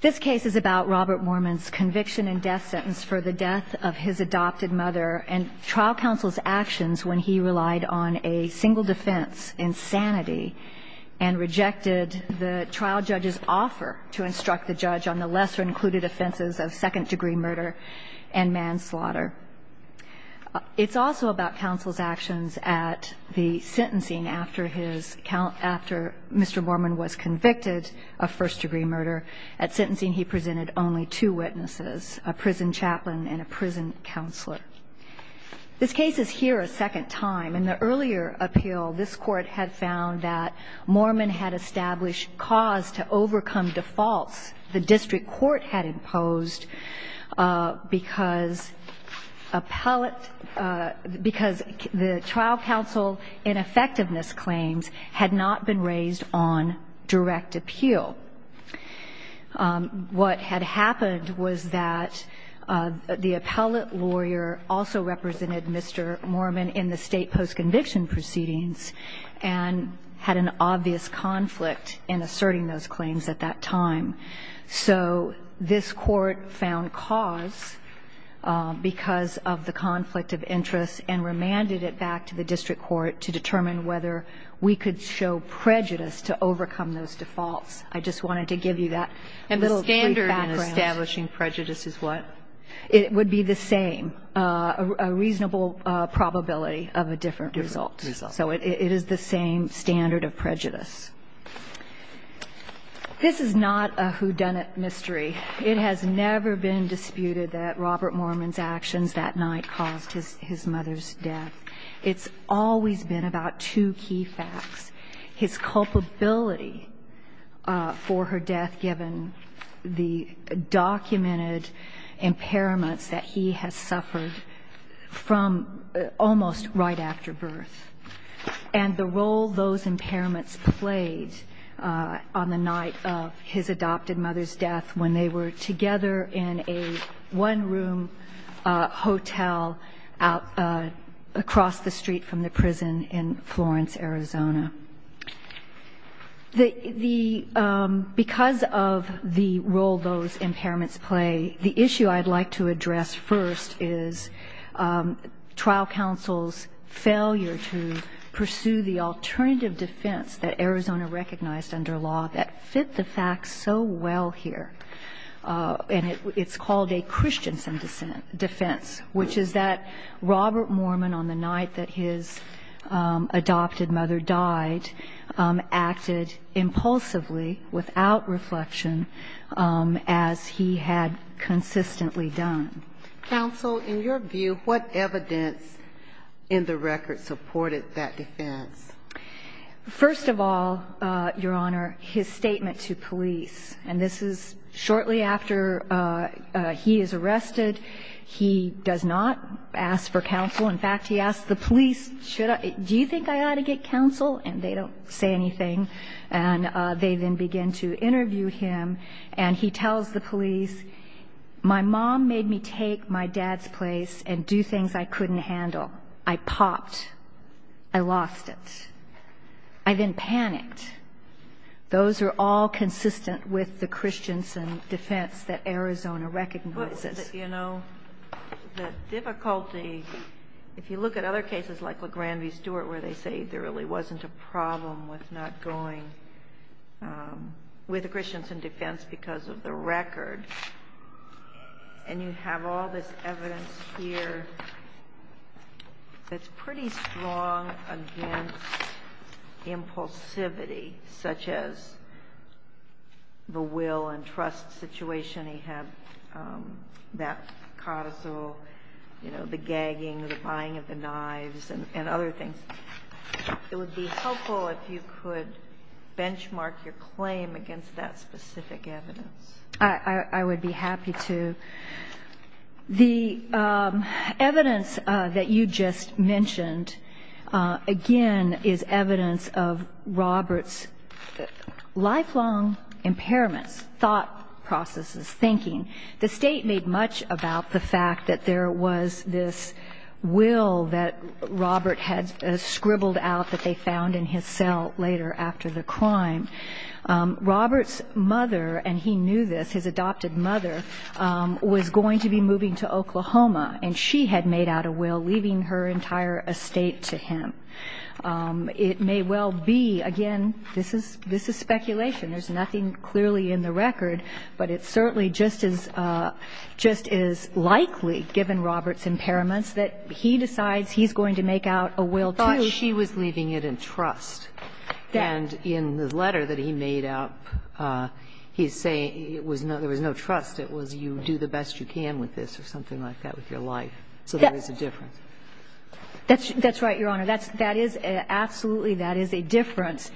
This case is about Robert Moorman's conviction and death sentence for the death of his adopted mother and trial counsel's actions when he relied on a single defense in sanity and rejected the trial judge's offer to instruct the judge on the lesser-included offenses of second-degree murder and manslaughter. It's also about counsel's actions at the sentencing after his – after Mr. Moorman was convicted of first-degree murder. At sentencing, he presented only two witnesses, a prison chaplain and a prison counselor. This case is here a second time. In the earlier appeal, this Court had found that Moorman had established cause to overcome defaults the district court had imposed because appellate – because the trial counsel ineffectiveness claims had not been raised on direct appeal. What had happened was that the appellate lawyer also represented Mr. Moorman in the State post-conviction proceedings and had an obvious conflict in asserting those claims at that time. So this Court found cause because of the conflict of interest and remanded it back to the district court to determine whether we could show prejudice to overcome those defaults. I just wanted to give you that little brief background. Kagan. And the standard in establishing prejudice is what? Dora. It would be the same, a reasonable probability of a different result. So it is the same standard of prejudice. This is not a whodunit mystery. It has never been disputed that Robert Moorman's actions that night caused his mother's death. It's always been about two key facts. And the role those impairments played on the night of his adopted mother's death when they were together in a one-room hotel across the street from the prison in Florence, Arizona. Because of the role those impairments play, the issue I'd like to address first is trial counsel's failure to pursue the alternative defense that Arizona recognized under law that fit the facts so well here. And it's called a Christensen defense, which is that Robert Moorman, on the night that his adopted mother died, acted impulsively without reflection as he had consistently done. Counsel, in your view, what evidence in the record supported that defense? First of all, Your Honor, his statement to police. And this is shortly after he is arrested. He does not ask for counsel. In fact, he asks the police, do you think I ought to get counsel? And they don't say anything. And they then begin to interview him. And he tells the police, my mom made me take my dad's place and do things I couldn't handle. I popped. I lost it. I then panicked. Those are all consistent with the Christensen defense that Arizona recognizes. But, you know, the difficulty, if you look at other cases like LeGrand v. Stewart where they say there really wasn't a problem with not going with a Christensen defense because of the record, and you have all this evidence here that's pretty strong against impulsivity, such as the will and trust situation he had, that carousel, you know, the gagging, the buying of the knives, and other things. It would be helpful if you could benchmark your claim against that specific evidence. I would be happy to. The evidence that you just mentioned, again, is evidence of Robert's lifelong impairments, thought processes, thinking. The State made much about the fact that there was this will that Robert had scribbled out that they found in his cell later after the crime. Robert's mother, and he knew this, his adopted mother, was going to be moving to Oklahoma, and she had made out a will leaving her entire estate to him. It may well be, again, this is speculation. There's nothing clearly in the record, but it certainly just is likely, given Robert's impairments, that he decides he's going to make out a will, too. And he was leaving it in trust. And in the letter that he made out, he's saying it was no – there was no trust. It was you do the best you can with this or something like that with your life. So there is a difference. Yes. That's right, Your Honor. That is absolutely – that is a difference.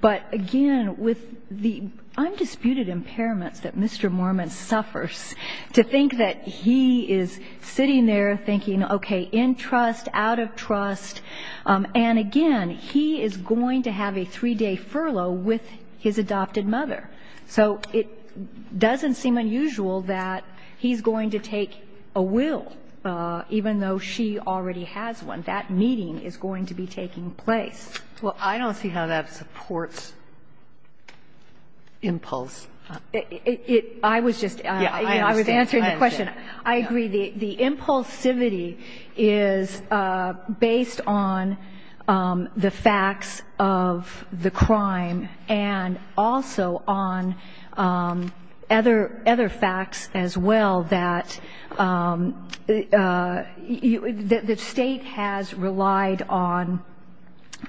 But again, with the undisputed impairments that Mr. Mormon suffers, to think that he is sitting there thinking, okay, in trust, out of trust. And again, he is going to have a three-day furlough with his adopted mother. So it doesn't seem unusual that he's going to take a will, even though she already has one. That meeting is going to be taking place. Well, I don't see how that supports impulse. It – I was just – Yes, I understand. Answering the question. I agree. The impulsivity is based on the facts of the crime and also on other facts as well that the State has relied on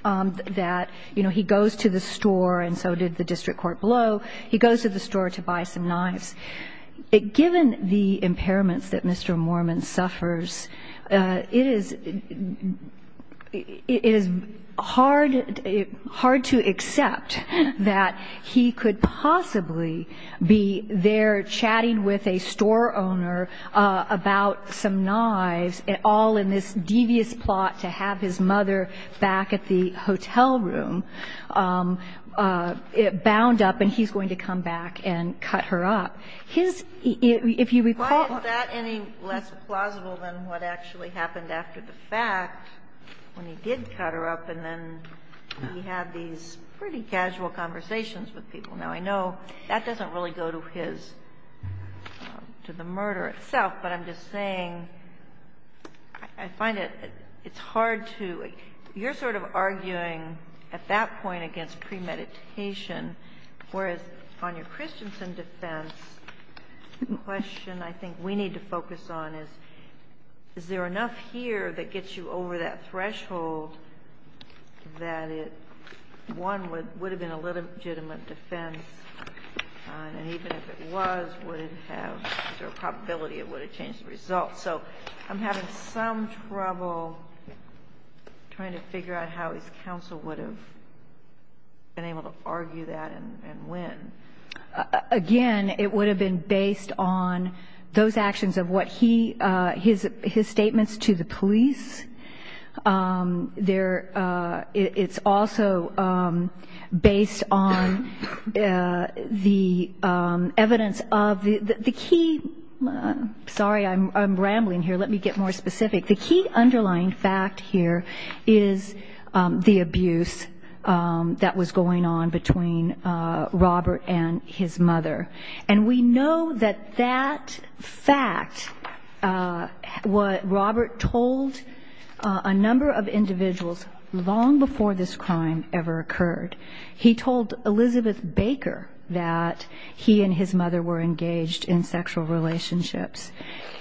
that, you know, he goes to the store, and so did the district court below. He goes to the store to buy some knives. Given the impairments that Mr. Mormon suffers, it is hard to accept that he could possibly be there chatting with a store owner about some knives, all in this devious plot to have his mother back at the hotel room, bound up, and he's going to come back and cut her up. His – if you recall – Why is that any less plausible than what actually happened after the fact, when he did cut her up and then he had these pretty casual conversations with people? Now, I know that doesn't really go to his – to the murder itself, but I'm just saying I find it – it's hard to – you're sort of arguing at that point against premeditation, whereas on your Christensen defense, the question I think we need to focus on is, is there enough here that gets you over that threshold that it – one, would it have been a legitimate defense? And even if it was, would it have – is there a probability it would have changed the result? So I'm having some trouble trying to figure out how his counsel would have been able to argue that and when. Again, it would have been based on those actions of what he – his statements to the police. There – it's also based on the evidence of the – the key – sorry, I'm rambling here. Let me get more specific. The key underlying fact here is the abuse that was going on between Robert and his mother. He told a number of individuals long before this crime ever occurred. He told Elizabeth Baker that he and his mother were engaged in sexual relationships.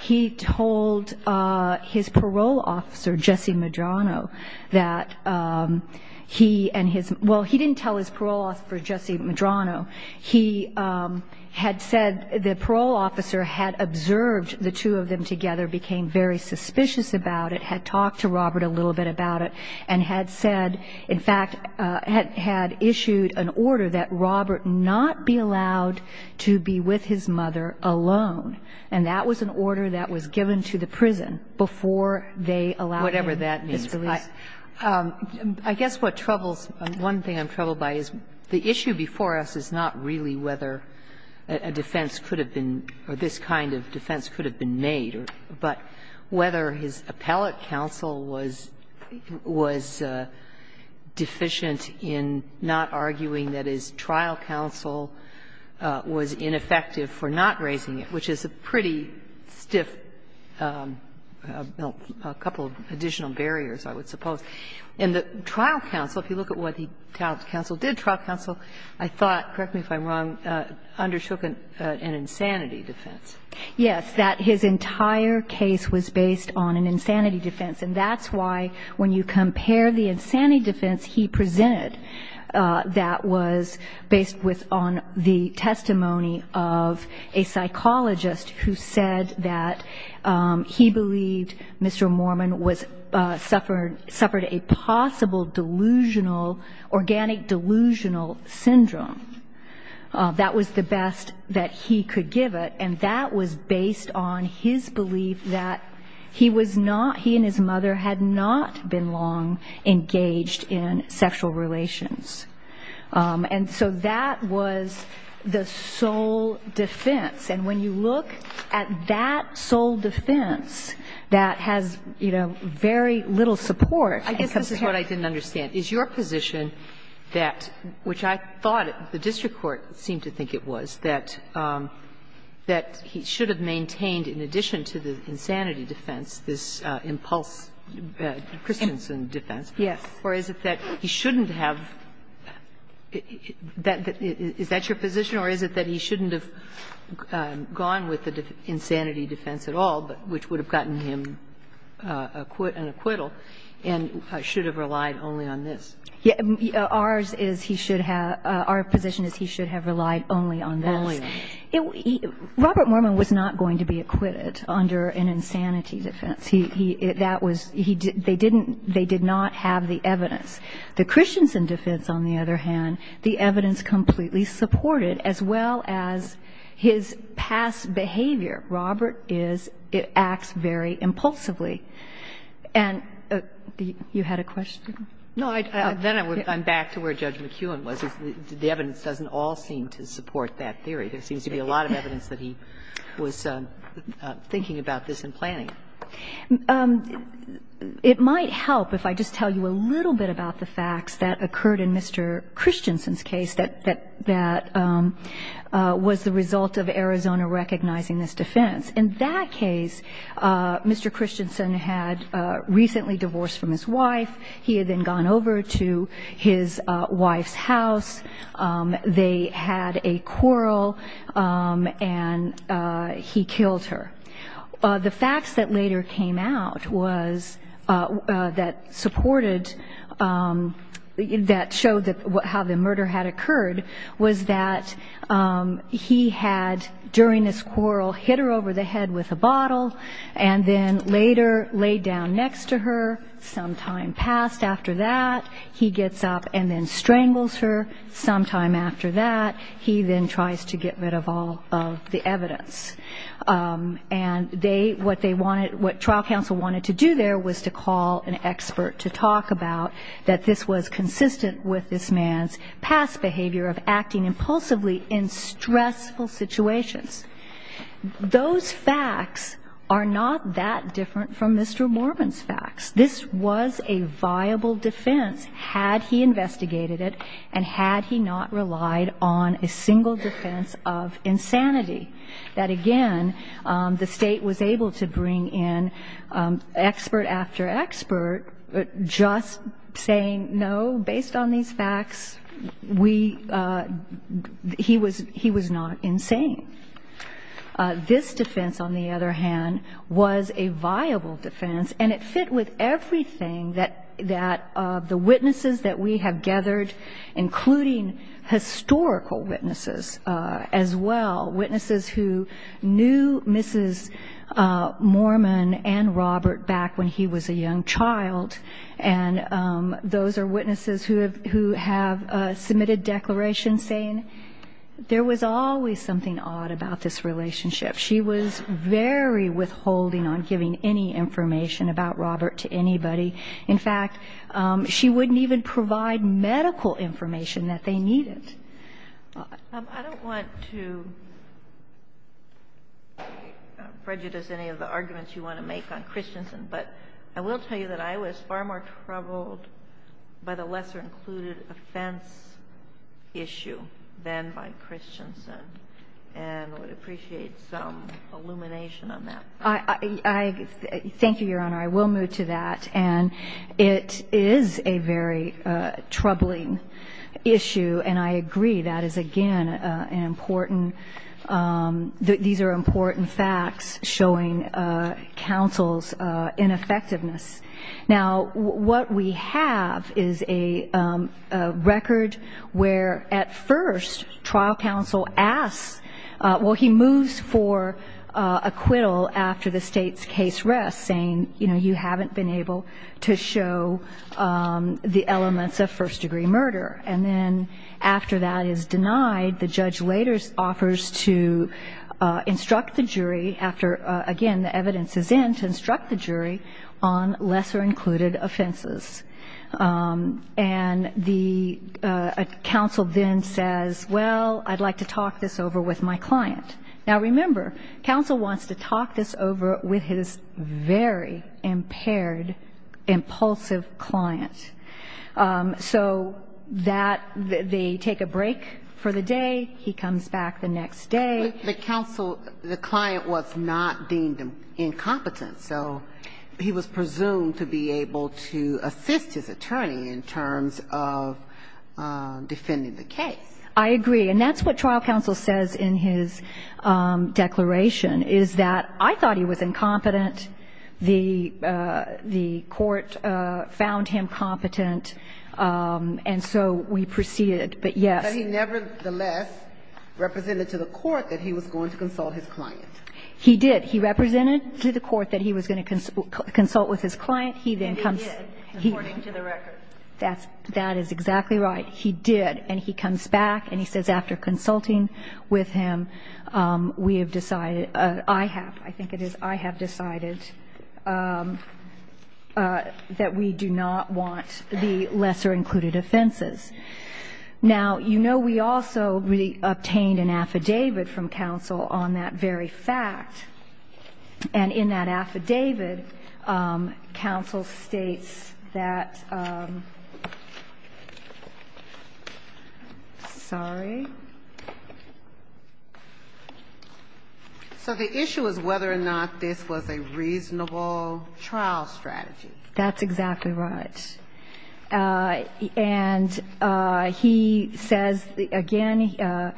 He told his parole officer, Jesse Medrano, that he and his – well, he didn't tell his parole officer, Jesse Medrano. He had said the parole officer had observed the two of them together, became very intimate about it, had talked to Robert a little bit about it, and had said – in fact, had issued an order that Robert not be allowed to be with his mother alone. And that was an order that was given to the prison before they allowed him his release. Whatever that means. I guess what troubles – one thing I'm troubled by is the issue before us is not really whether a defense could have been – or this kind of defense could have been made, but whether his appellate counsel was deficient in not arguing that his trial counsel was ineffective for not raising it, which is a pretty stiff – a couple of additional barriers, I would suppose. In the trial counsel, if you look at what the trial counsel did, trial counsel, I thought – correct me if I'm wrong – undershook an insanity defense. Yes. That his entire case was based on an insanity defense. And that's why when you compare the insanity defense he presented that was based with on the testimony of a psychologist who said that he believed Mr. Mormon suffered a possible delusional – organic delusional syndrome. That was the best that he could give it. And that was based on his belief that he was not – he and his mother had not been long engaged in sexual relations. And so that was the sole defense. And when you look at that sole defense that has, you know, very little support and comes from him. I guess this is what I didn't understand. Is your position that – which I thought the district court seemed to think it was – that he should have maintained, in addition to the insanity defense, this impulse Christensen defense? Yes. Or is it that he shouldn't have – is that your position, or is it that he shouldn't have gone with the insanity defense at all, but which would have gotten him an acquittal and should have relied only on this? Ours is he should have – our position is he should have relied only on this. Only on this. Robert Mormon was not going to be acquitted under an insanity defense. He – that was – they didn't – they did not have the evidence. The Christensen defense, on the other hand, the evidence completely supported, as well as his past behavior. Robert is – it acts very impulsively. And you had a question? No. Then I'm back to where Judge McEwen was. The evidence doesn't all seem to support that theory. There seems to be a lot of evidence that he was thinking about this and planning it. It might help if I just tell you a little bit about the facts that occurred in Mr. Christensen's case. Mr. Christensen was the result of Arizona recognizing this defense. In that case, Mr. Christensen had recently divorced from his wife. He had then gone over to his wife's house. They had a quarrel, and he killed her. The facts that later came out was – that supported – that showed how the murder had occurred was that he had, during this quarrel, hit her over the head with a bottle and then later laid down next to her. Some time passed after that, he gets up and then strangles her. Some time after that, he then tries to get rid of all of the evidence. And they – what they wanted – what trial counsel wanted to do there was to call an impulsively in stressful situations. Those facts are not that different from Mr. Morbin's facts. This was a viable defense had he investigated it and had he not relied on a single defense of insanity. That, again, the State was able to bring in expert after expert just saying, no, based on these facts, we – he was not insane. This defense, on the other hand, was a viable defense, and it fit with everything that the witnesses that we have gathered, including historical witnesses as well, witnesses who knew Mrs. Morman and Robert back when he was a young child, and those are witnesses who have submitted declarations saying there was always something odd about this relationship. She was very withholding on giving any information about Robert to anybody. In fact, she wouldn't even provide medical information that they needed. I don't want to prejudice any of the arguments you want to make on Christensen, but I will tell you that I was far more troubled by the lesser-included offense issue than by Christensen, and would appreciate some illumination on that. I – thank you, Your Honor. I will move to that, and it is a very troubling issue, and I agree. That is, again, an important – these are important facts showing counsel's ineffectiveness. Now, what we have is a record where, at first, trial counsel asks – well, he moves for acquittal after the State's case rests, saying, you know, you haven't been able to show the elements of first-degree murder. And then after that is denied, the judge later offers to instruct the jury after, again, the evidence is in, to instruct the jury on lesser-included offenses. And the – counsel then says, well, I'd like to talk this over with my client. Now, remember, counsel wants to talk this over with his very impaired, impulsive client. So that – they take a break for the day, he comes back the next day. But the counsel – the client was not deemed incompetent, so he was presumed to be able to assist his attorney in terms of defending the case. I agree, and that's what trial counsel says in his declaration, is that I thought he was incompetent, the court found him competent, and so we proceeded. But, yes. But he nevertheless represented to the court that he was going to consult his client. He did. According to the record. That is exactly right. He did. And he comes back and he says, after consulting with him, we have decided – I have, I think it is, I have decided that we do not want the lesser-included offenses. Now, you know, we also obtained an affidavit from counsel on that very fact. And in that affidavit, counsel states that – sorry. So the issue is whether or not this was a reasonable trial strategy. That's exactly right. And he says, again,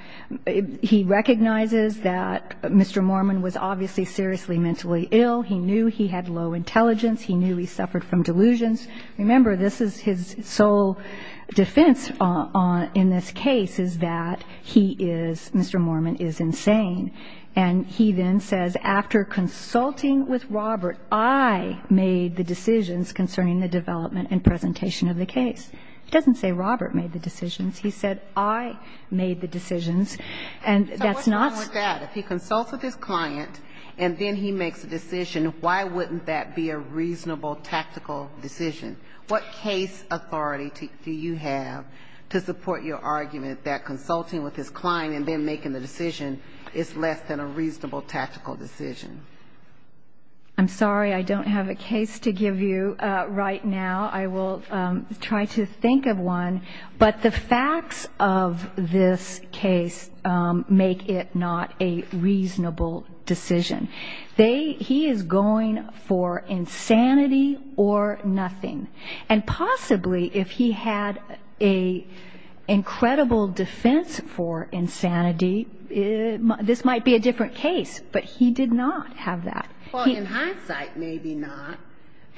he recognizes that Mr. Mormon was obviously seriously injured. He was seriously mentally ill. He knew he had low intelligence. He knew he suffered from delusions. Remember, this is his sole defense in this case, is that he is – Mr. Mormon is insane. And he then says, after consulting with Robert, I made the decisions concerning the development and presentation of the case. He doesn't say Robert made the decisions. He said, I made the decisions. And that's not – So what's wrong with that? If he consults with his client and then he makes a decision, why wouldn't that be a reasonable tactical decision? What case authority do you have to support your argument that consulting with his client and then making the decision is less than a reasonable tactical decision? I'm sorry. I don't have a case to give you right now. I will try to think of one. But the facts of this case make it not a reasonable decision. They – he is going for insanity or nothing. And possibly if he had an incredible defense for insanity, this might be a different case. But he did not have that. Well, in hindsight, maybe not.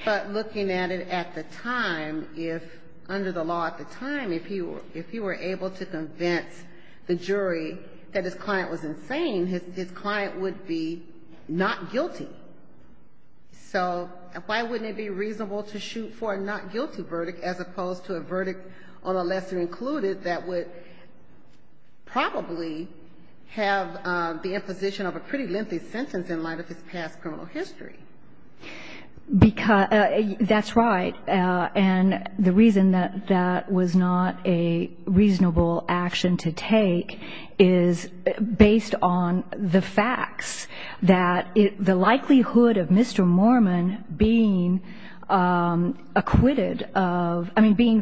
But looking at it at the time, if – under the law at the time, if he were able to convince the jury that his client was insane, his client would be not guilty. So why wouldn't it be reasonable to shoot for a not guilty verdict as opposed to a verdict on a lesser included that would probably have the imposition of a pretty lengthy sentence in light of his past criminal history? Because – that's right. And the reason that that was not a reasonable action to take is based on the facts, that the likelihood of Mr. Mormon being acquitted of – I mean, being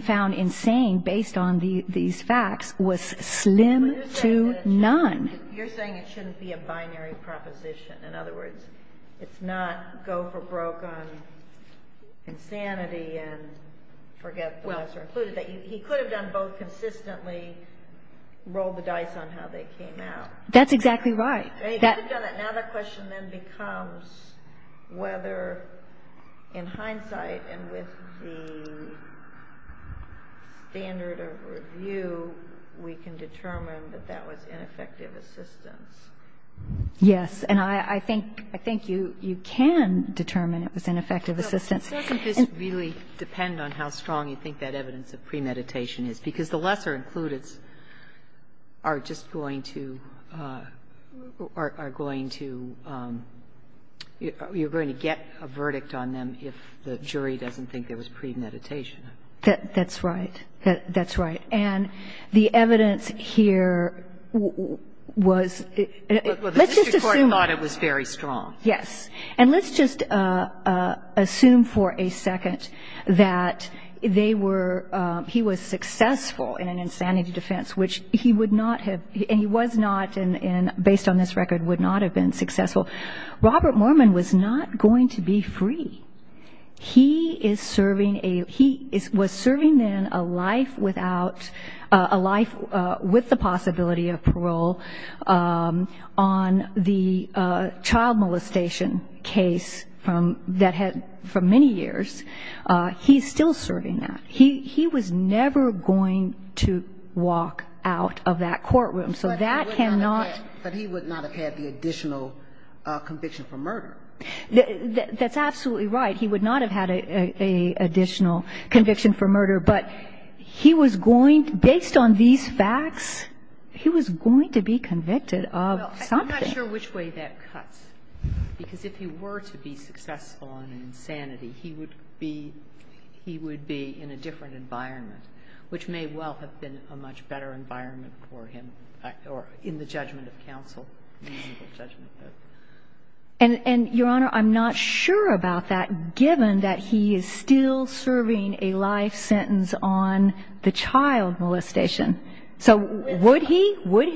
found insane based on these facts was slim to none. You're saying it shouldn't be a binary proposition. In other words, it's not go for broke on insanity and forget the lesser included. He could have done both consistently, rolled the dice on how they came out. That's exactly right. Now the question then becomes whether in hindsight and with the standard of review, we can determine that that was ineffective as well. Yes. And I think – I think you can determine it was ineffective assistance. Doesn't this really depend on how strong you think that evidence of premeditation is? Because the lesser included are just going to – are going to – you're going to get a verdict on them if the jury doesn't think there was premeditation. That's right. That's right. And the evidence here was – let's just assume – Well, the district court thought it was very strong. Yes. And let's just assume for a second that they were – he was successful in an insanity defense, which he would not have – and he was not, based on this record, would not have been successful. Robert Mormon was not going to be free. He is serving a – he was serving then a life without – a life with the possibility of parole on the child molestation case from – that had – for many years. He's still serving that. He was never going to walk out of that courtroom. But he would not have had the additional conviction for murder. That's absolutely right. He would not have had an additional conviction for murder. But he was going – based on these facts, he was going to be convicted of something. Well, I'm not sure which way that cuts. Because if he were to be successful in an insanity, he would be – he would be in a different environment, which may well have been a much better environment for him. But I don't know the answer. But I don't know the answer. And, Your Honor, I'm not sure about that, given that he is still serving a life sentence on the child molestation. And I sort of well believe that was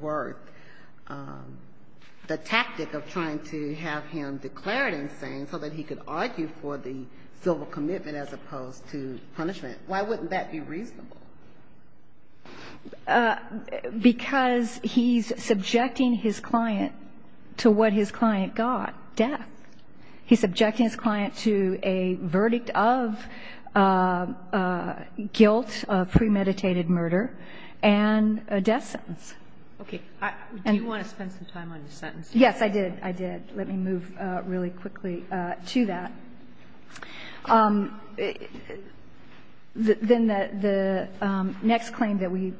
worth the tactic of trying to have him declared insane so that he could argue for the civil commitment as opposed to punishment. Why wouldn't that be reasonable? Because he's subjecting his client to what his client got, death. He's subjecting his client to a verdict of guilt, of premeditated murder, and a death sentence. Okay. Do you want to spend some time on the sentence? Yes, I did. I did. Let me move really quickly to that. Then the next claim that we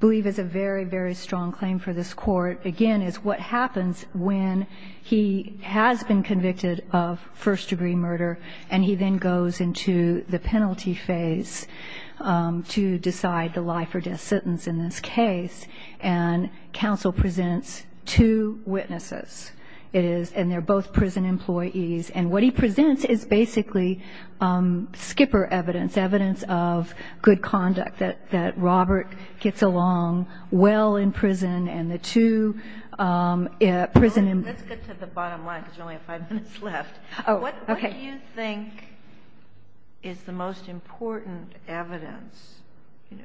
believe is a very, very strong claim for this Court, again, is what happens when he has been convicted of first-degree murder, and he then goes into the penalty phase to decide the life or death sentence in this case. And counsel presents two witnesses. And they're both prison employees. And what he presents is basically skipper evidence, evidence of good conduct, that Robert gets along well in prison. And the two prison employees... Let's get to the bottom line, because we only have five minutes left. What do you think is the most important evidence,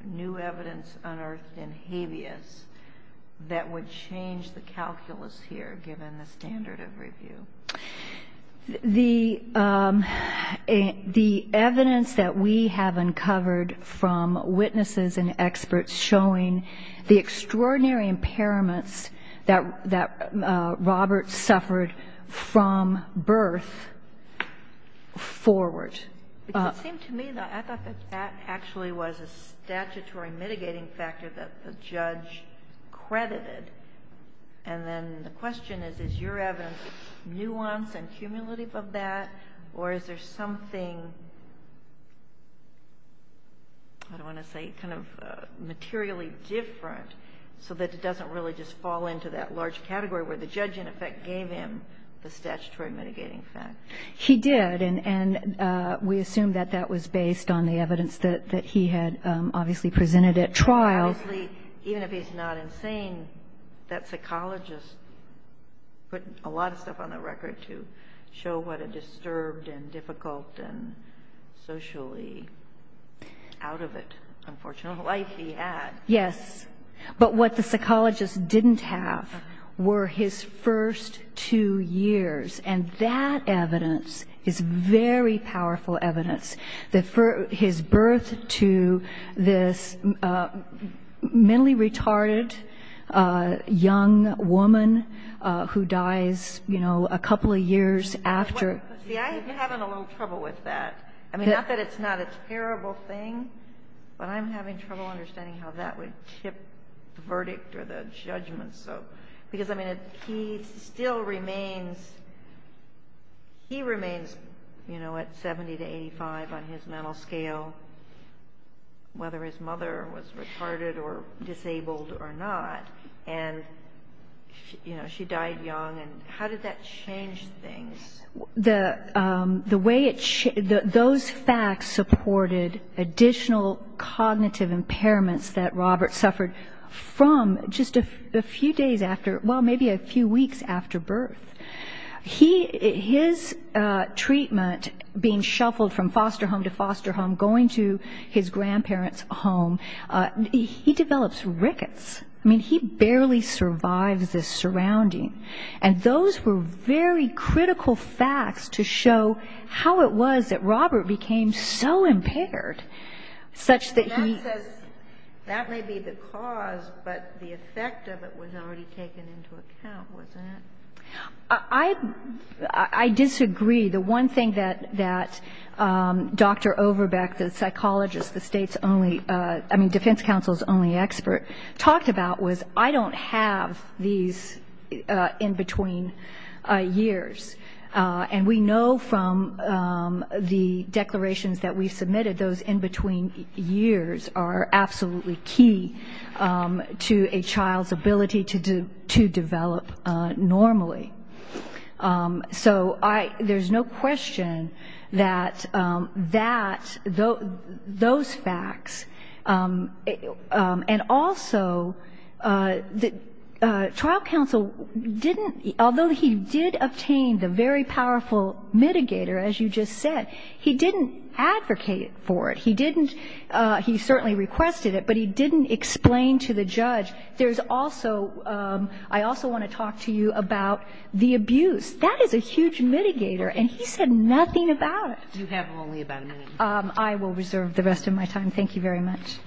new evidence unearthed in habeas, that would change the calculus here, given the standard of review? The evidence that we have uncovered from witnesses and experts showing the extraordinary impairment that Robert suffered from birth forward. It seemed to me, though, I thought that that actually was a statutory mitigating factor that the judge credited. And then the question is, is your evidence nuance and cumulative of that, or is there something, I don't want to say, kind of materially different, so that it doesn't really just fall into that large category where the judge, in effect, gave him the statutory mitigating factor? He did, and we assume that that was based on the evidence that he had obviously presented at trial. Obviously, even if he's not insane, that psychologist put a lot of stuff on the record to show what a disturbed and difficult and socially out-of-it, unfortunate life he had. Yes, but what the psychologist didn't have were his first two years, and that evidence is very powerful evidence, that for his birth to this mentally retarded young woman who dies, you know, a couple of years after... See, I'm having a little trouble with that. I mean, not that it's not a terrible thing, but I'm having trouble understanding how that would tip the verdict or the judgment. Because, I mean, he still remains, he remains, you know, at 70 to 85 on his mental scale, whether his mother was retarded or disabled or not, and, you know, she died young. And how did that change things? Those facts supported additional cognitive impairments that Robert suffered from just a few days after, well, maybe a few weeks after birth. His treatment, being shuffled from foster home to foster home, going to his grandparents' home, he develops rickets. I mean, he barely survives his surrounding. And those were very critical facts to show how it was that Robert became so impaired, such that he... And that says that may be the cause, but the effect of it was already taken into account, wasn't it? I disagree. The one thing that Dr. Overbeck, the psychologist, the state's only, I mean, defense counsel's only expert, talked about was, I don't have these in-between years. And we know from the declarations that we've submitted, those in-between years are absolutely key to a child's ability to develop normally. So I, there's no question that that, those facts, and also, you know, the fact that he was able to survive, that trial counsel didn't, although he did obtain the very powerful mitigator, as you just said, he didn't advocate for it. He didn't, he certainly requested it, but he didn't explain to the judge, there's also, I also want to talk to you about the abuse. That is a huge mitigator, and he said nothing about it. I will reserve the rest of my time. Thank you very much.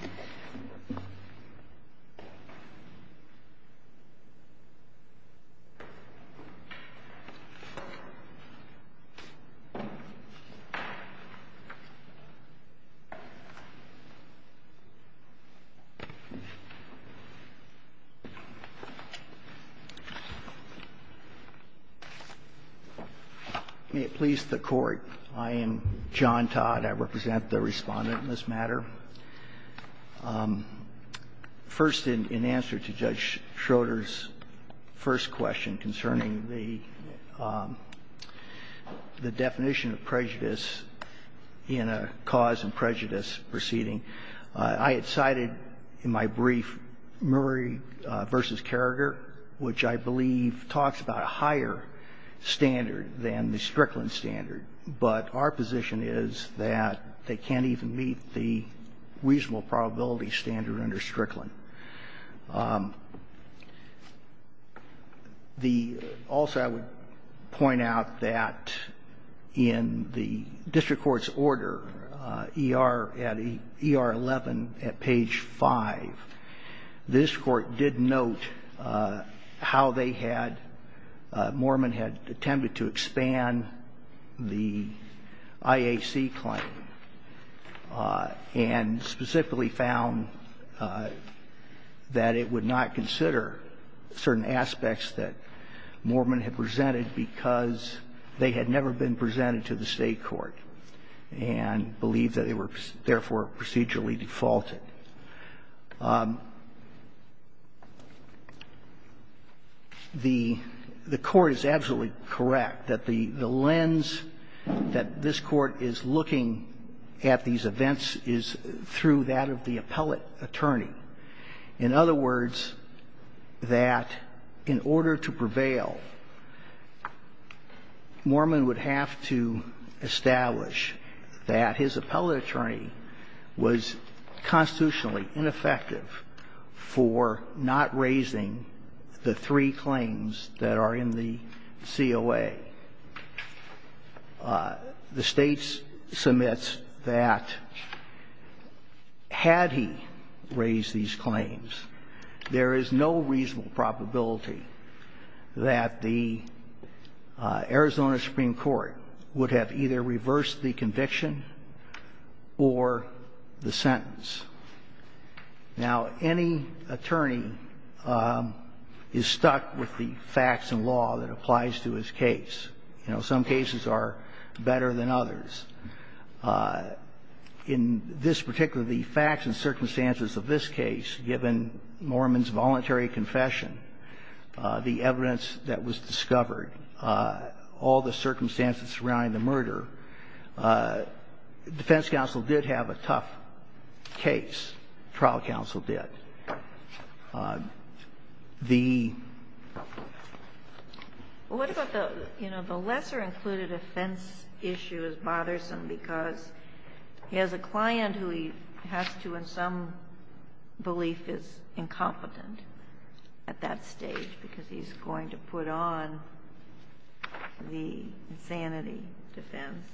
May it please the Court, I am John Todd, I represent the Respondent in this matter. First, in answer to Judge Schroeder's first question concerning the definition of prejudice in a cause and prejudice proceeding, I had cited in my brief Murray v. Carragher, which I believe talks about a higher standard than the Strickland standard. But our position is that they can't even meet the reasonable probability standard under Strickland. The, also I would point out that in the district court's order, ER, at ER 11 at page 5, the district court did note how they had, Moorman had attempted to expand the standard of the IAC claim and specifically found that it would not consider certain aspects that Moorman had presented because they had never been presented to the State court and believed that they were therefore procedurally defaulted. The Court is absolutely correct that the lens that this Court is looking at these events is through that of the appellate attorney. In other words, that in order to prevail, Moorman would have to establish that his claim is fundamentally ineffective for not raising the three claims that are in the COA. The State submits that had he raised these claims, there is no reasonable probability that the Arizona Supreme Court would have either reversed the conviction or the sentence. Now, any attorney is stuck with the facts and law that applies to his case. You know, some cases are better than others. In this particular, the facts and circumstances of this case, given Moorman's voluntary confession, the evidence that was discovered, all the circumstances surrounding the murder, defense counsel did have a tough case. Trial counsel did. The ---- Well, what about the, you know, the lesser included offense issue is bothersome because he has a client who he has to, in some belief, is incompetent at that stage because he's going to put on the insanity defense.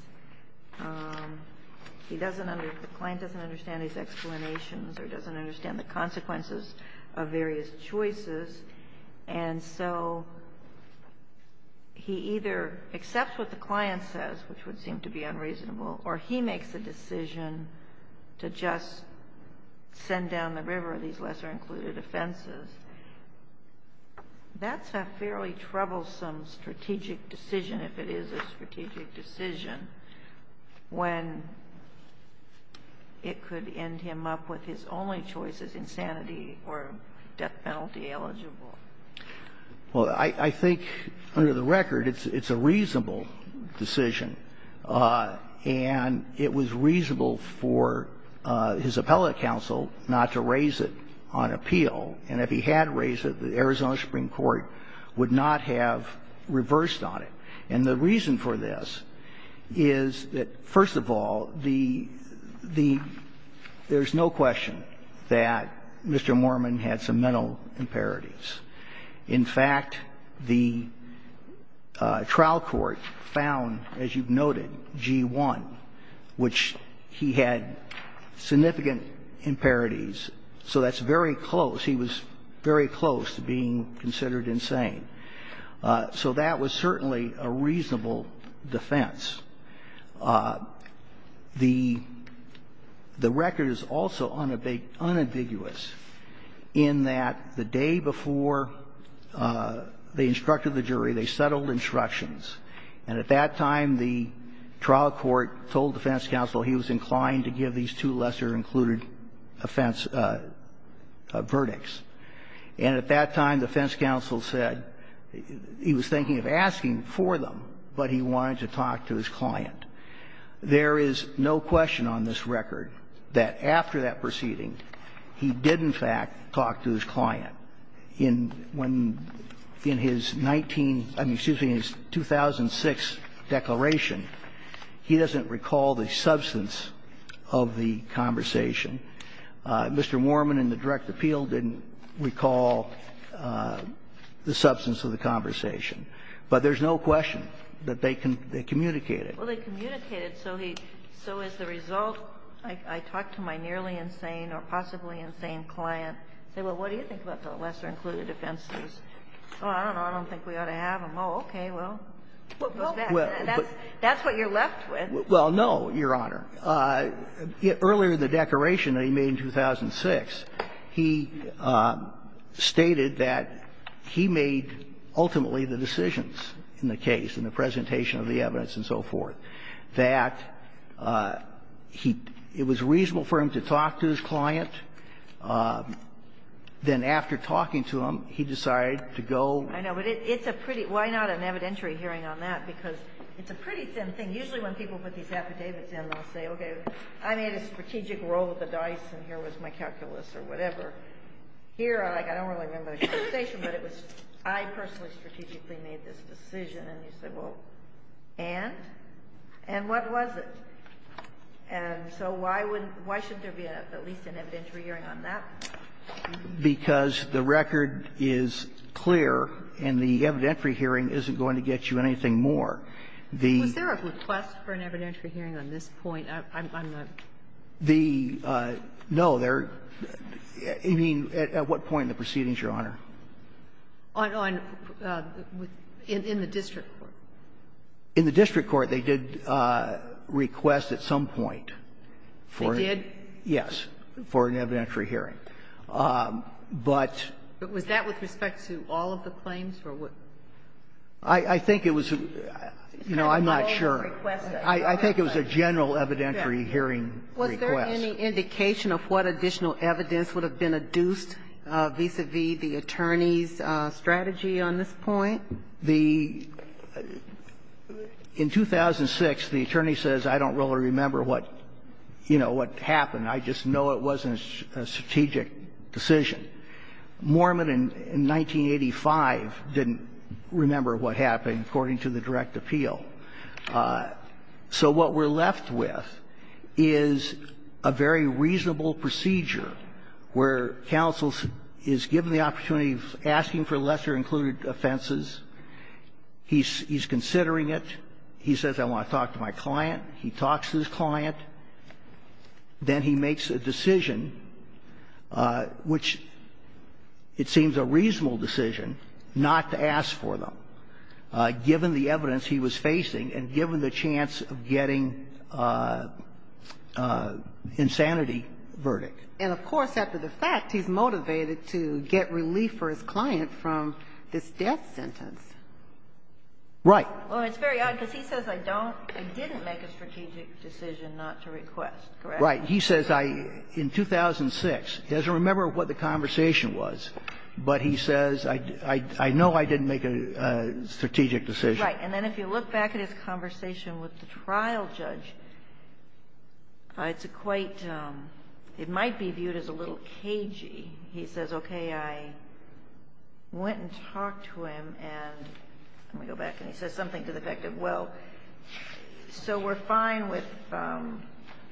He doesn't understand, the client doesn't understand his explanations or doesn't understand the consequences of various choices. And so he either accepts what the client says, which would seem to be unreasonable, or he makes a decision to just send down the river these lesser included offenses. That's a fairly troublesome strategic decision, if it is a strategic decision. When it could end him up with his only choice is insanity or death penalty eligible. Well, I think under the record, it's a reasonable decision. And it was reasonable for his appellate counsel not to raise it on appeal. And if he had raised it, the Arizona Supreme Court would not have reversed on it. And the reason for this is that, first of all, the ---- there's no question that Mr. Moorman had some mental impurities. In fact, the trial court found, as you've noted, G-1, which he had significant impurities, so that's very close. He was very close to being considered insane. So that was certainly a reasonable defense. The record is also unambiguous in that the day before they instructed the jury, they settled instructions. And at that time, the trial court told defense counsel he was inclined to give these two lesser included offense verdicts. And at that time, defense counsel said he was thinking of asking for them, but he wanted to talk to his client. There is no question on this record that after that proceeding, he did, in fact, talk to his client. In his 19 ---- excuse me, in his 2006 declaration, he doesn't recall the substance of the conversation. Mr. Moorman in the direct appeal didn't recall the substance of the conversation. But there's no question that they communicated. Well, they communicated, so he ---- so as a result, I talked to my nearly insane or possibly insane client. I said, well, what do you think about the lesser included offenses? Oh, I don't know, I don't think we ought to have them. Oh, okay, well, that's what you're left with. Well, no, Your Honor. Earlier in the declaration that he made in 2006, he stated that he made ultimately the decisions in the case, in the presentation of the evidence and so forth, that he ---- it was reasonable for him to talk to his client. Then after talking to him, he decided to go. I know, but it's a pretty ---- why not an evidentiary hearing on that? Because it's a pretty thin thing. Usually when people put these affidavits in, they'll say, okay, I made a strategic roll of the dice, and here was my calculus or whatever. Here, I don't really remember the conversation, but it was I personally strategically made this decision. And you say, well, and? And what was it? And so why would ---- why shouldn't there be at least an evidentiary hearing on that? Because the record is clear, and the evidentiary hearing isn't going to get you anything more. The ---- Was there a request for an evidentiary hearing on this point, on the ---- The no, there ---- I mean, at what point in the proceedings, Your Honor? On the ---- in the district court. In the district court, they did request at some point for ---- They did? Yes, for an evidentiary hearing. But ---- But was that with respect to all of the claims, or what ---- I think it was a ---- you know, I'm not sure. I think it was a general evidentiary hearing request. Was there any indication of what additional evidence would have been adduced vis-a-vis the attorney's strategy on this point? The ---- in 2006, the attorney says, I don't really remember what, you know, what happened. I just know it wasn't a strategic decision. Mormon, in 1985, didn't remember what happened, according to the direct appeal. So what we're left with is a very reasonable procedure where counsel is given the opportunity of asking for lesser-included offenses, he's considering it, he says, I want to talk to my client, he talks to his client, then he makes a decision which, it seems, a reasonable decision not to ask for them, given the evidence he was facing and given the chance of getting insanity verdict. And, of course, after the fact, he's motivated to get relief for his client from this death sentence. Right. Well, it's very odd, because he says, I don't ---- I didn't make a strategic decision not to request, correct? Right. He says, I, in 2006, doesn't remember what the conversation was, but he says, I know I didn't make a strategic decision. Right. And then if you look back at his conversation with the trial judge, it's a quite ---- it might be viewed as a little cagey. He says, okay, I went and talked to him and ---- let me go back, and he says something to the effect of, well, so we're fine with,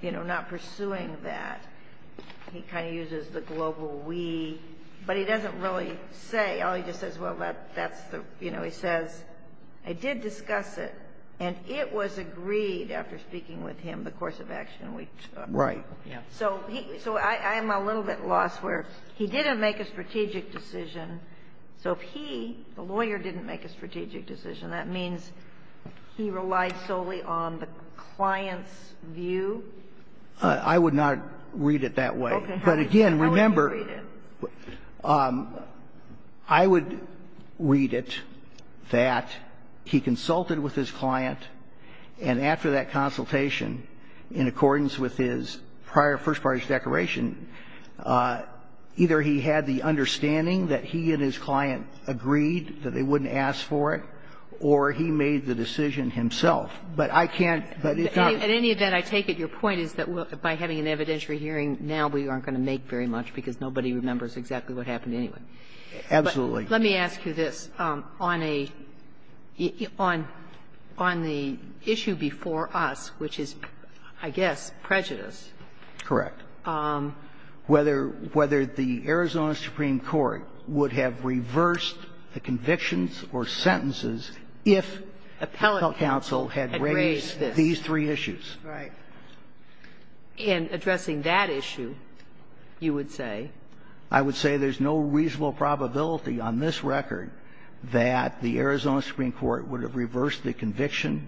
you know, not pursuing that. He kind of uses the global we, but he doesn't really say. All he just says, well, that's the, you know, he says, I did discuss it, and it was agreed after speaking with him the course of action we took. Right. Yeah. So he ---- so I'm a little bit lost where he didn't make a strategic decision. So if he, the lawyer, didn't make a strategic decision, that means he relied solely on the client's view? I would not read it that way. Okay. But again, remember ---- How would you read it? I would read it that he consulted with his client, and after that consultation, in accordance with his prior first parties' declaration, either he had the understanding that he and his client agreed, that they wouldn't ask for it, or he made the decision himself. But I can't ---- But in any event, I take it your point is that by having an evidentiary hearing, now we aren't going to make very much, because nobody remembers exactly what happened anyway. Absolutely. Let me ask you this. On a ---- on the issue before us, which is, I guess, prejudice, whether the Arizona Supreme Court would have reversed the convictions or sentences if the Appellate Counsel had raised these three issues. Right. In addressing that issue, you would say? I would say there's no reasonable probability on this record that the Arizona Supreme Court would have reversed the conviction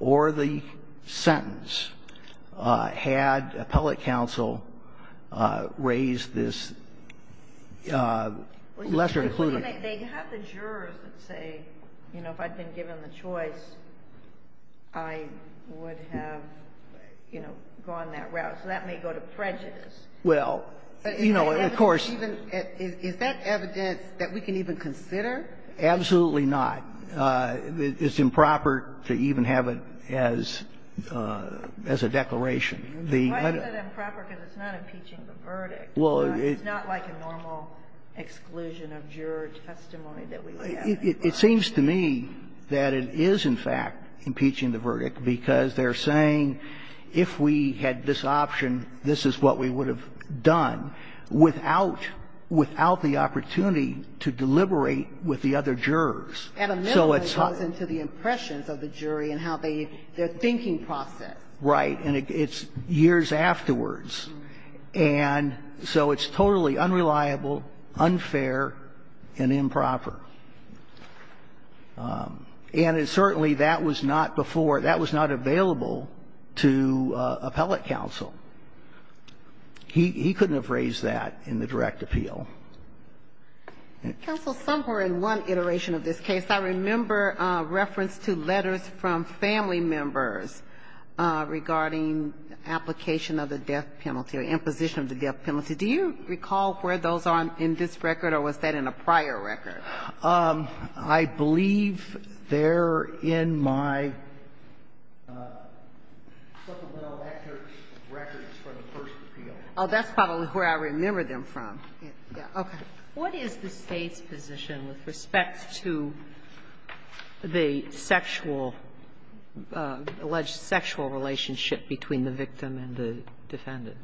or the sentence had Appellate Counsel raised this lesser included ---- They have the jurors that say, you know, if I'd been given the choice, I would have, you know, gone that route. So that may go to prejudice. Well, you know, of course ---- Is that evidence that we can even consider? Absolutely not. It's improper to even have it as a declaration. Why is it improper? Because it's not impeaching the verdict. Well, it's not like a normal exclusion of juror testimony that we have. It seems to me that it is, in fact, impeaching the verdict, because they're saying, if we had this option, this is what we would have done without the opportunity to deliberate with the other jurors. And a minimum goes into the impressions of the jury and how they ---- their thinking process. Right. And it's years afterwards. And so it's totally unreliable, unfair, and improper. And it's certainly that was not before ---- that was not available to Appellate Counsel. He couldn't have raised that in the direct appeal. Counsel, somewhere in one iteration of this case, I remember reference to letters from family members regarding application of the death penalty or imposition of the death penalty. Do you recall where those are in this record, or was that in a prior record? I believe they're in my supplemental records for the first appeal. Oh, that's probably where I remember them from. Okay. What is the State's position with respect to the sexual ---- alleged sexual relationship between the victim and the defendant?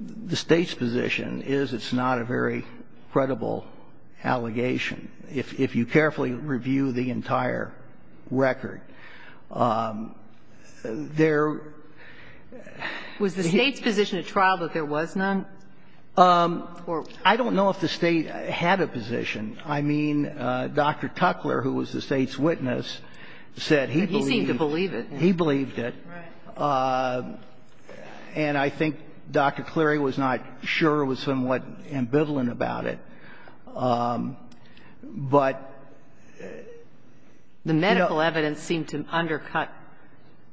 The State's position is it's not a very credible allegation. If you carefully review the entire record, there ---- Was the State's position at trial that there was none? I don't know if the State had a position. I mean, Dr. Tuckler, who was the State's witness, said he believed it. He seemed to believe it. He believed it. Right. And I think Dr. Cleary was not sure, was somewhat ambivalent about it. But ---- The medical evidence seemed to undercut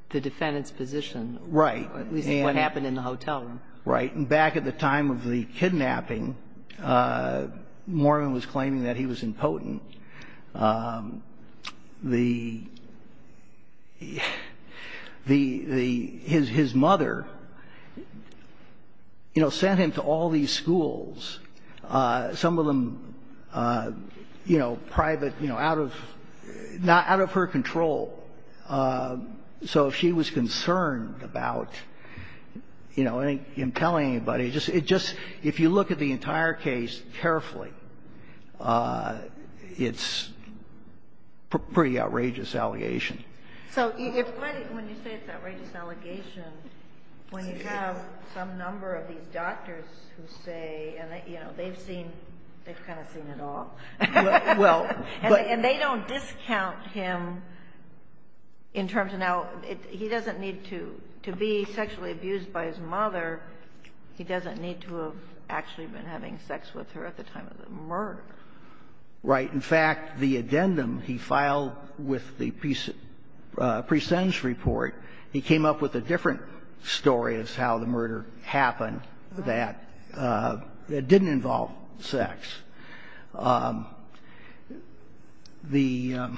the defendant's position. Right. At least what happened in the hotel room. Right. And back at the time of the kidnapping, Mormon was claiming that he was impotent. The ---- his mother, you know, sent him to all these schools. Some of them, you know, private, you know, out of her control. So if she was concerned about, you know, him telling anybody, it just ---- if you look at the entire case carefully, it's a pretty outrageous allegation. So if ---- When you say it's an outrageous allegation, when you have some number of these people, you know, they've seen ---- they've kind of seen it all. Well, but ---- And they don't discount him in terms of now ---- he doesn't need to be sexually abused by his mother. He doesn't need to have actually been having sex with her at the time of the murder. Right. In fact, the addendum he filed with the pre-sentence report, he came up with a different story as to how the murder happened that didn't involve sex. The ----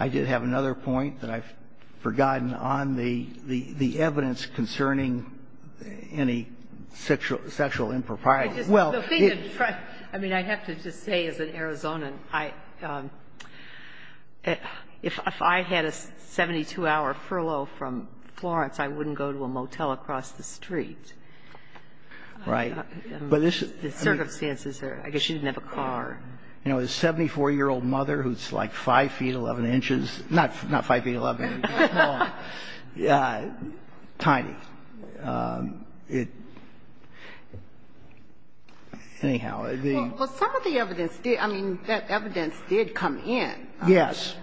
I did have another point that I've forgotten on the evidence concerning any sexual impropriety. Well, the thing in front, I mean, I have to just say as an Arizonan, if I had a 72-hour furlough from Florence, I wouldn't go to a motel across the street. Right. But this is ---- The circumstances are ---- I guess she didn't have a car. You know, a 74-year-old mother who's like 5 feet 11 inches, not 5 feet 11, no, tiny. It ---- anyhow, the ---- Well, some of the evidence did ---- I mean, that evidence did come in. Yes.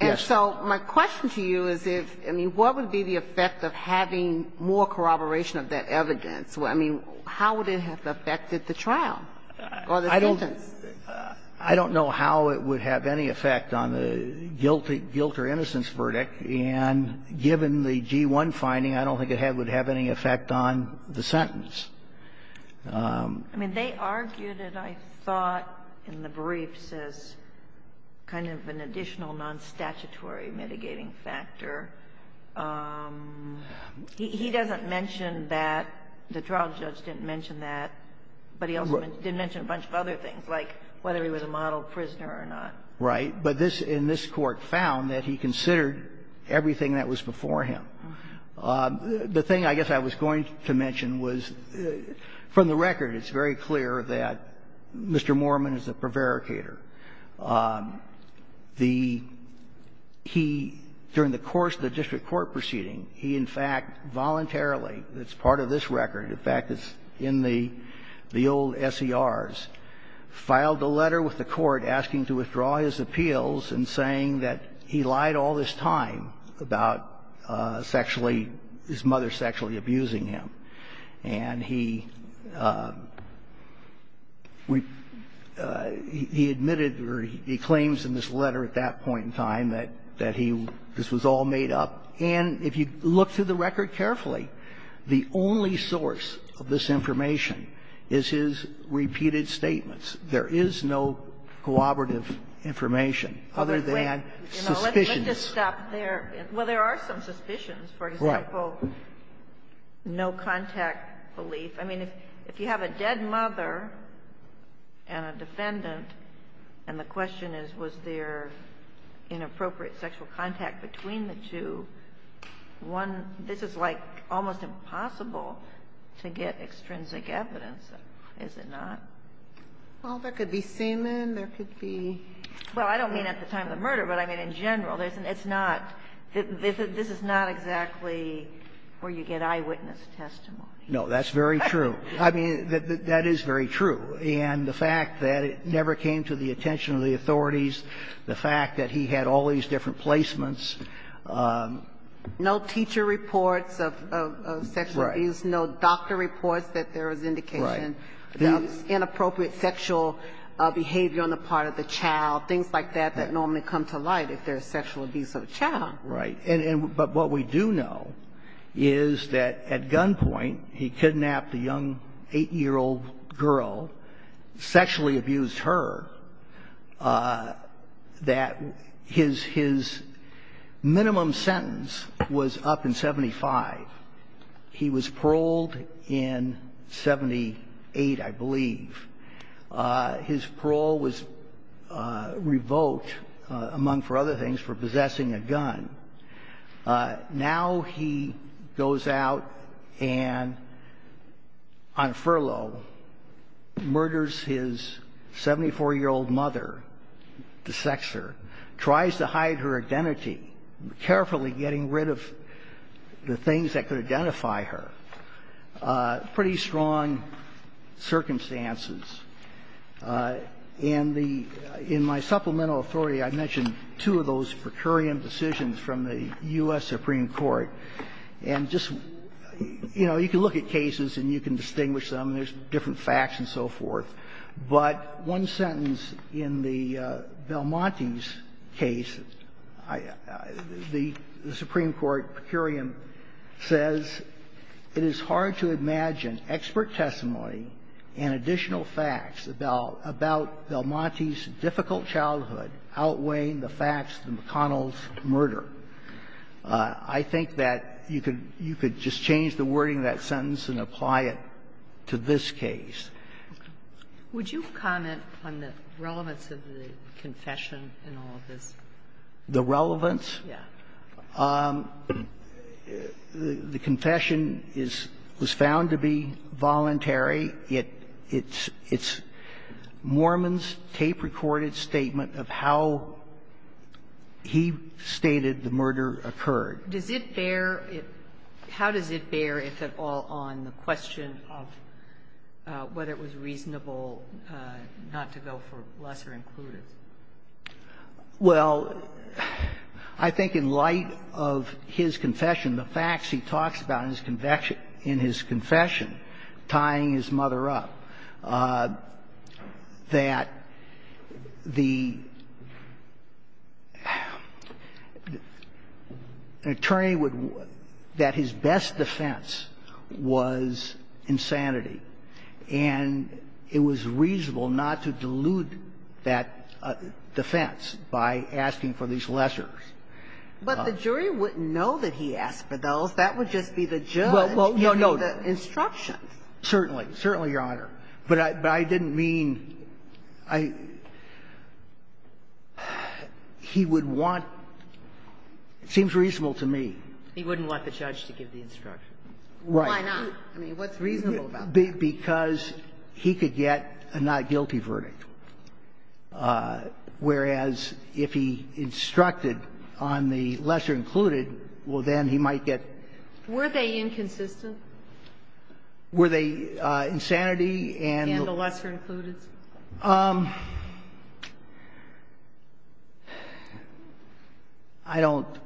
And so my question to you is if, I mean, what would be the effect of having more corroboration of that evidence? I mean, how would it have affected the trial or the sentence? I don't know how it would have any effect on the guilt or innocence verdict. And given the G-1 finding, I don't think it would have any effect on the sentence. I mean, they argued it, I thought, in the briefs as kind of an additional nonstatutory mitigating factor. He doesn't mention that. The trial judge didn't mention that. But he also didn't mention a bunch of other things, like whether he was a model prisoner or not. Right. But this ---- and this Court found that he considered everything that was before him. The thing I guess I was going to mention was, from the record, it's very clear that Mr. Mormon is a prevaricator. The ---- he, during the course of the district court proceeding, he in fact voluntarily ---- it's part of this record. In fact, it's in the old SERs ---- filed a letter with the court asking to withdraw his appeals and saying that he lied all this time about sexually ---- his mother sexually abusing him. And he ---- he admitted or he claims in this letter at that point in time that he ---- this was all made up. And if you look through the record carefully, the only source of this information is his repeated statements. There is no cooperative information other than suspicions. Kagan. Let's just stop there. Well, there are some suspicions. For example, no contact belief. I mean, if you have a dead mother and a defendant, and the question is, was there inappropriate sexual contact between the two, one ---- this is, like, almost impossible to get extrinsic evidence, is it not? Well, there could be semen, there could be ---- Well, I don't mean at the time of the murder, but, I mean, in general, it's not ---- this is not exactly where you get eyewitness testimony. No, that's very true. I mean, that is very true. And the fact that it never came to the attention of the authorities, the fact that he had all these different placements. No teacher reports of sexual abuse. Right. No doctor reports that there was indication. Right. There was inappropriate sexual behavior on the part of the child, things like that, that normally come to light if there's sexual abuse of a child. Right. And what we do know is that at gunpoint, he kidnapped a young 8-year-old girl, sexually abused her, that his minimum sentence was up in 75. He was paroled in 78, I believe. His parole was revoked, among other things, for possessing a gun. Now he goes out and, on furlough, murders his 74-year-old mother, the sexer, tries to hide her identity, carefully getting rid of the things that could identify her. Pretty strong circumstances. In the — in my supplemental authority, I mentioned two of those per curiam decisions from the U.S. Supreme Court. And just, you know, you can look at cases and you can distinguish them. There's different facts and so forth. But one sentence in the Belmontes case, the Supreme Court per curiam says, it is hard to imagine expert testimony and additional facts about Belmontes' difficult childhood outweighing the facts of McConnell's murder. I think that you could just change the wording of that sentence and apply it to this case. Would you comment on the relevance of the confession in all of this? The relevance? Yeah. The confession is — was found to be voluntary. It's Mormon's tape-recorded statement of how he stated the murder occurred. Does it bear — how does it bear, if at all, on the question of whether it was reasonable not to go for lesser-included? Well, I think in light of his confession, the facts he talks about in his confession, tying his mother up, that the attorney would — that his best defense was insanity. And it was reasonable not to dilute that defense by asking for these lessers. But the jury wouldn't know that he asked for those. That would just be the judge giving the instruction. Certainly. Certainly, Your Honor. But I didn't mean — I — he would want — it seems reasonable to me. He wouldn't want the judge to give the instruction. Right. Why not? I mean, what's reasonable about that? Because he could get a not guilty verdict, whereas if he instructed on the lesser-included, well, then he might get — Were they inconsistent? Were they insanity and — And the lesser-included? I don't —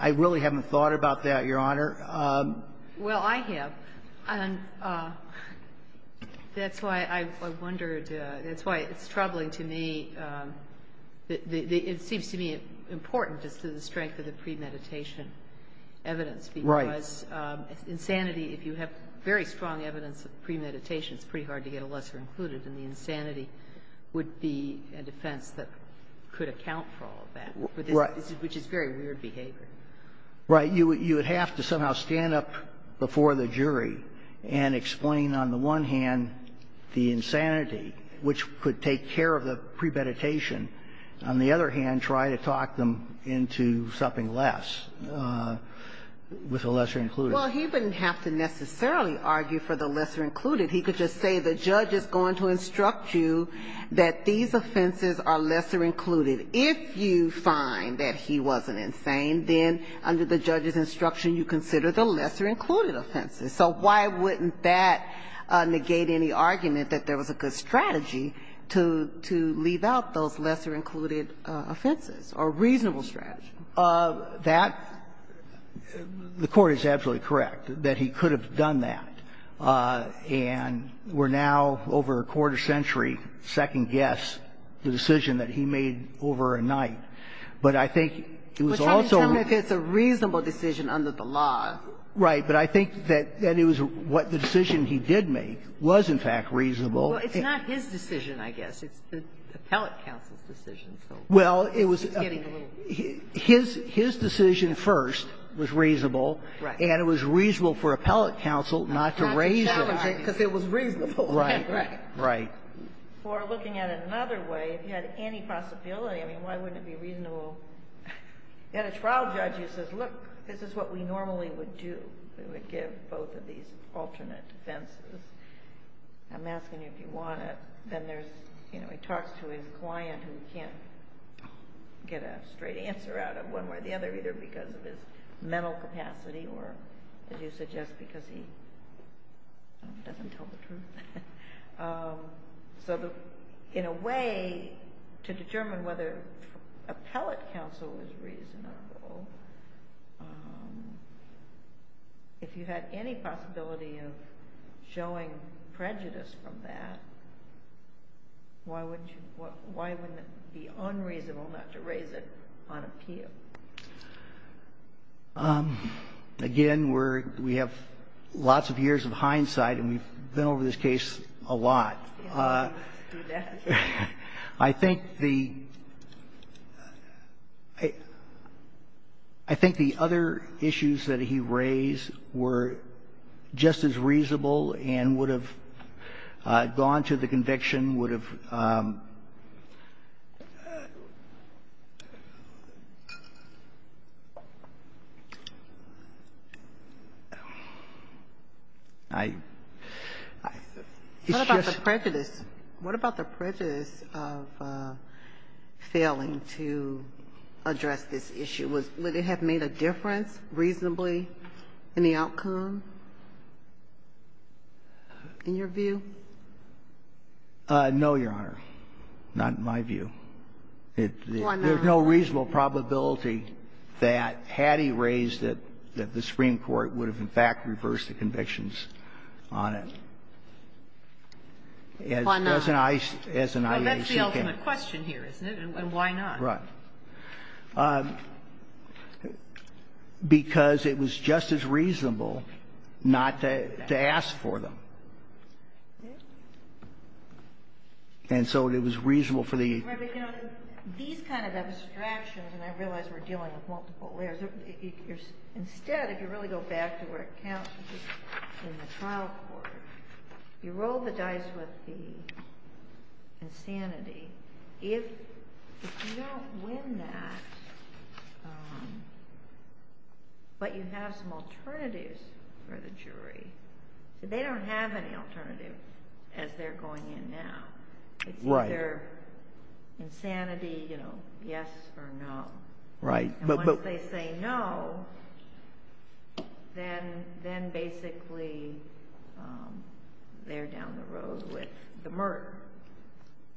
I really haven't thought about that, Your Honor. Well, I have. And that's why I wondered — that's why it's troubling to me — it seems to me important as to the strength of the premeditation evidence. Right. Because insanity, if you have very strong evidence of premeditation, it's pretty hard to get a lesser-included. And the insanity would be a defense that could account for all of that. Right. Which is very weird behavior. Right. You would have to somehow stand up before the jury and explain, on the one hand, the insanity, which could take care of the premeditation. On the other hand, try to talk them into something less with the lesser-included. Well, he wouldn't have to necessarily argue for the lesser-included. He could just say the judge is going to instruct you that these offenses are lesser-included. If you find that he wasn't insane, then under the judge's instruction, you consider the lesser-included offenses. So why wouldn't that negate any argument that there was a good strategy to — to leave out those lesser-included offenses, a reasonable strategy? That — the Court is absolutely correct that he could have done that. And we're now, over a quarter-century, second-guess the decision that he made over a night. But I think it was also — But try to determine if it's a reasonable decision under the law. Right. But I think that it was what the decision he did make was, in fact, reasonable. Well, it's not his decision, I guess. It's the appellate counsel's decision, so he's getting a little — Well, it was — his decision first was reasonable. Right. And it was reasonable for appellate counsel not to raise it, because it was reasonable. Right. Right. Right. We're looking at it another way. If you had any possibility, I mean, why wouldn't it be reasonable? You had a trial judge who says, look, this is what we normally would do. We would give both of these alternate defenses. I'm asking you if you want it. Then there's — you know, he talks to his client who can't get a straight answer out of one way or the other, either because of his mental capacity or, as you suggest, because he doesn't tell the truth. So in a way, to determine whether appellate counsel was reasonable, if you had any possibility of showing prejudice from that, why would you — why wouldn't it be unreasonable not to raise it on appeal? Again, we're — we have lots of years of hindsight, and we've been over this case a lot. You don't need to do that. I think the — I think the other issues that he raised were just as reasonable and would have gone to the conviction, would have — I — it's just — What about the prejudice? What about the prejudice of failing to address this issue? Would it have made a difference reasonably in the outcome, in your view? No, Your Honor, not in my view. Why not? There's no reasonable probability that, had he raised it, that the Supreme Court would have, in fact, reversed the convictions on it. Why not? As an IAC can — Well, that's the ultimate question here, isn't it? And why not? Right. Because it was just as reasonable not to ask for them. And so it was reasonable for the — Right. But, you know, these kind of abstractions, and I realize we're dealing with multiple layers, if you're — instead, if you really go back to where it counts in the trial court, you roll the dice with the insanity, if you don't win that, but you have some alternatives for the jury, they don't have any alternative as they're going in now. It's either insanity, you know, yes or no. Right. And once they say no, then basically they're down the road with the merit.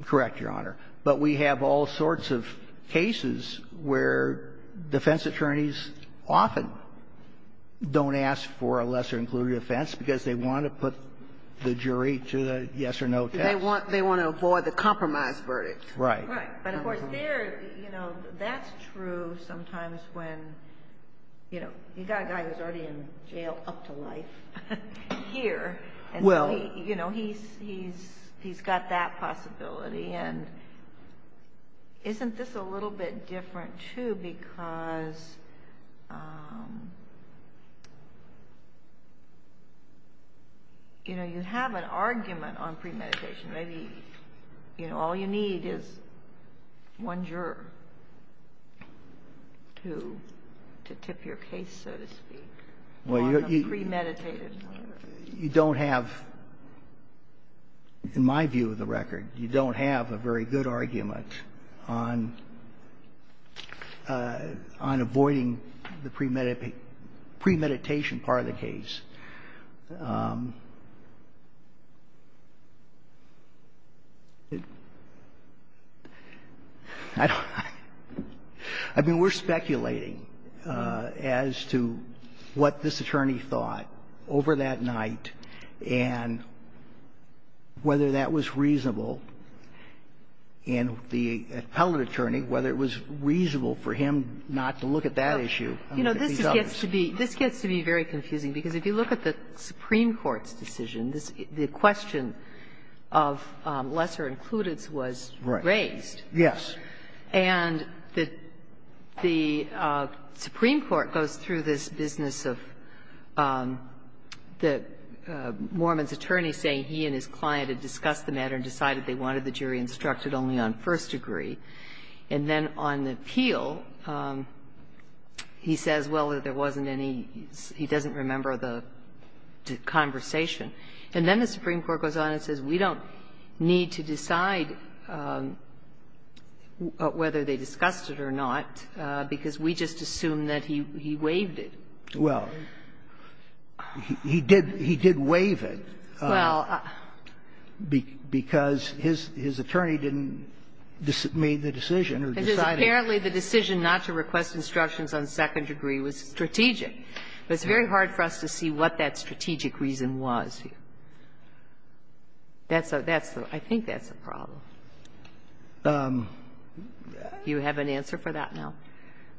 Correct, Your Honor. But we have all sorts of cases where defense attorneys often don't ask for a lesser-included offense because they want to put the jury to the yes-or-no test. They want to avoid the compromise verdict. Right. Right. But of course, there, you know, that's true sometimes when, you know, you've got a guy who's already in jail up to life here, and so, you know, he's got that possibility. And isn't this a little bit different, too, because, you know, you have an argument on one juror to tip your case, so to speak, on a premeditated matter? You don't have, in my view of the record, you don't have a very good argument on avoiding the premeditation part of the case. I mean, we're speculating as to what this attorney thought over that night and whether that was reasonable, and the appellate attorney, whether it was reasonable for him not to look at that issue and look at these others. You know, this gets to be very confusing, because if you look at this case, it's If you look at the Supreme Court's decision, the question of lesser includance was raised. Yes. And the Supreme Court goes through this business of the mormon's attorney saying he and his client had discussed the matter and decided they wanted the jury instructed only on first degree, and then on the appeal, he says, well, there wasn't any, he doesn't remember the conversation. And then the Supreme Court goes on and says, we don't need to decide whether they discussed it or not, because we just assumed that he waived it. Well, he did waive it because his attorney didn't make the decision or decided to do it. And apparently, the decision not to request instructions on second degree was strategic. But it's very hard for us to see what that strategic reason was here. That's a – that's a – I think that's a problem. Do you have an answer for that now?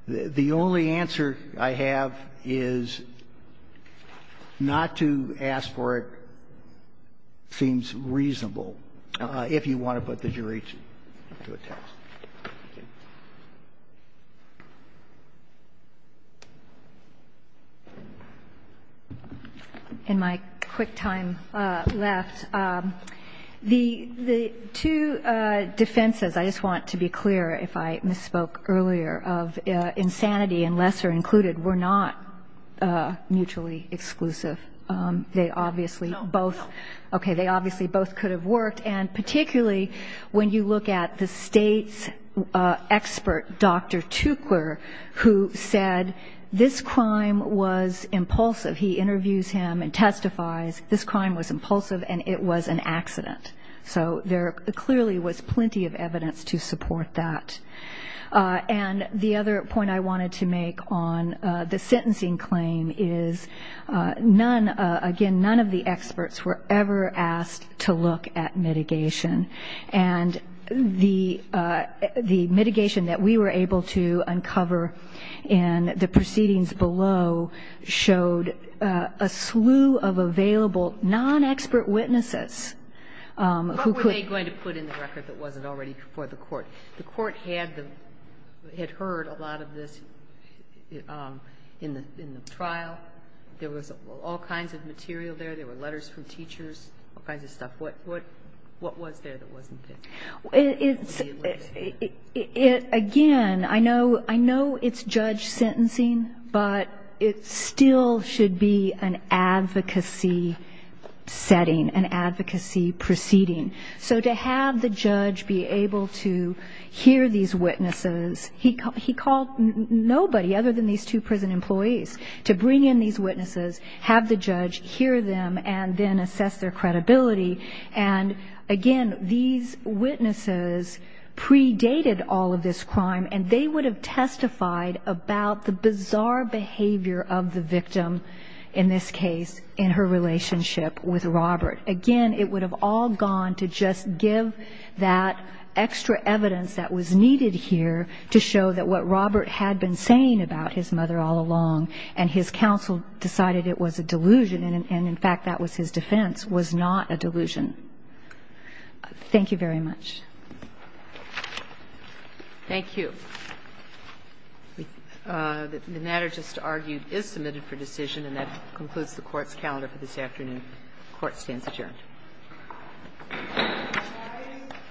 The only answer I have is not to ask for it seems reasonable if you want to put the jury to a test. Thank you. In my quick time left, the – the two defenses, I just want to be clear if I misspoke earlier, of insanity and lesser included were not mutually exclusive. They obviously both – No, no. Okay, they obviously both could have worked. And particularly when you look at the State's expert, Dr. Tukor, who said this crime was impulsive, he interviews him and testifies, this crime was impulsive and it was an accident. So there clearly was plenty of evidence to support that. And the other point I wanted to make on the sentencing claim is none – again, none of the experts were ever asked to look at mitigation. And the – the mitigation that we were able to uncover in the proceedings below showed a slew of available non-expert witnesses who could – What were they going to put in the record that wasn't already before the court? The court had the – had heard a lot of this in the – in the trial. There was all kinds of material there. There were letters from teachers, all kinds of stuff. What – what was there that wasn't there? It's – It would be a witness. It – again, I know – I know it's judge sentencing, but it still should be an advocacy setting, an advocacy proceeding. So to have the judge be able to hear these witnesses, he called nobody other than these two prison employees to bring in these witnesses, have the judge hear them, and then assess their credibility. And again, these witnesses predated all of this crime, and they would have testified about the bizarre behavior of the victim, in this case, in her relationship with Robert. Again, it would have all gone to just give that extra evidence that was needed here to show that what Robert had been saying about his mother all along, and his counsel decided it was a delusion, and in fact, that was his defense, was not a delusion. Thank you very much. Thank you. The matter just argued is submitted for decision, and that concludes the Court's calendar for this afternoon. The Court stands adjourned.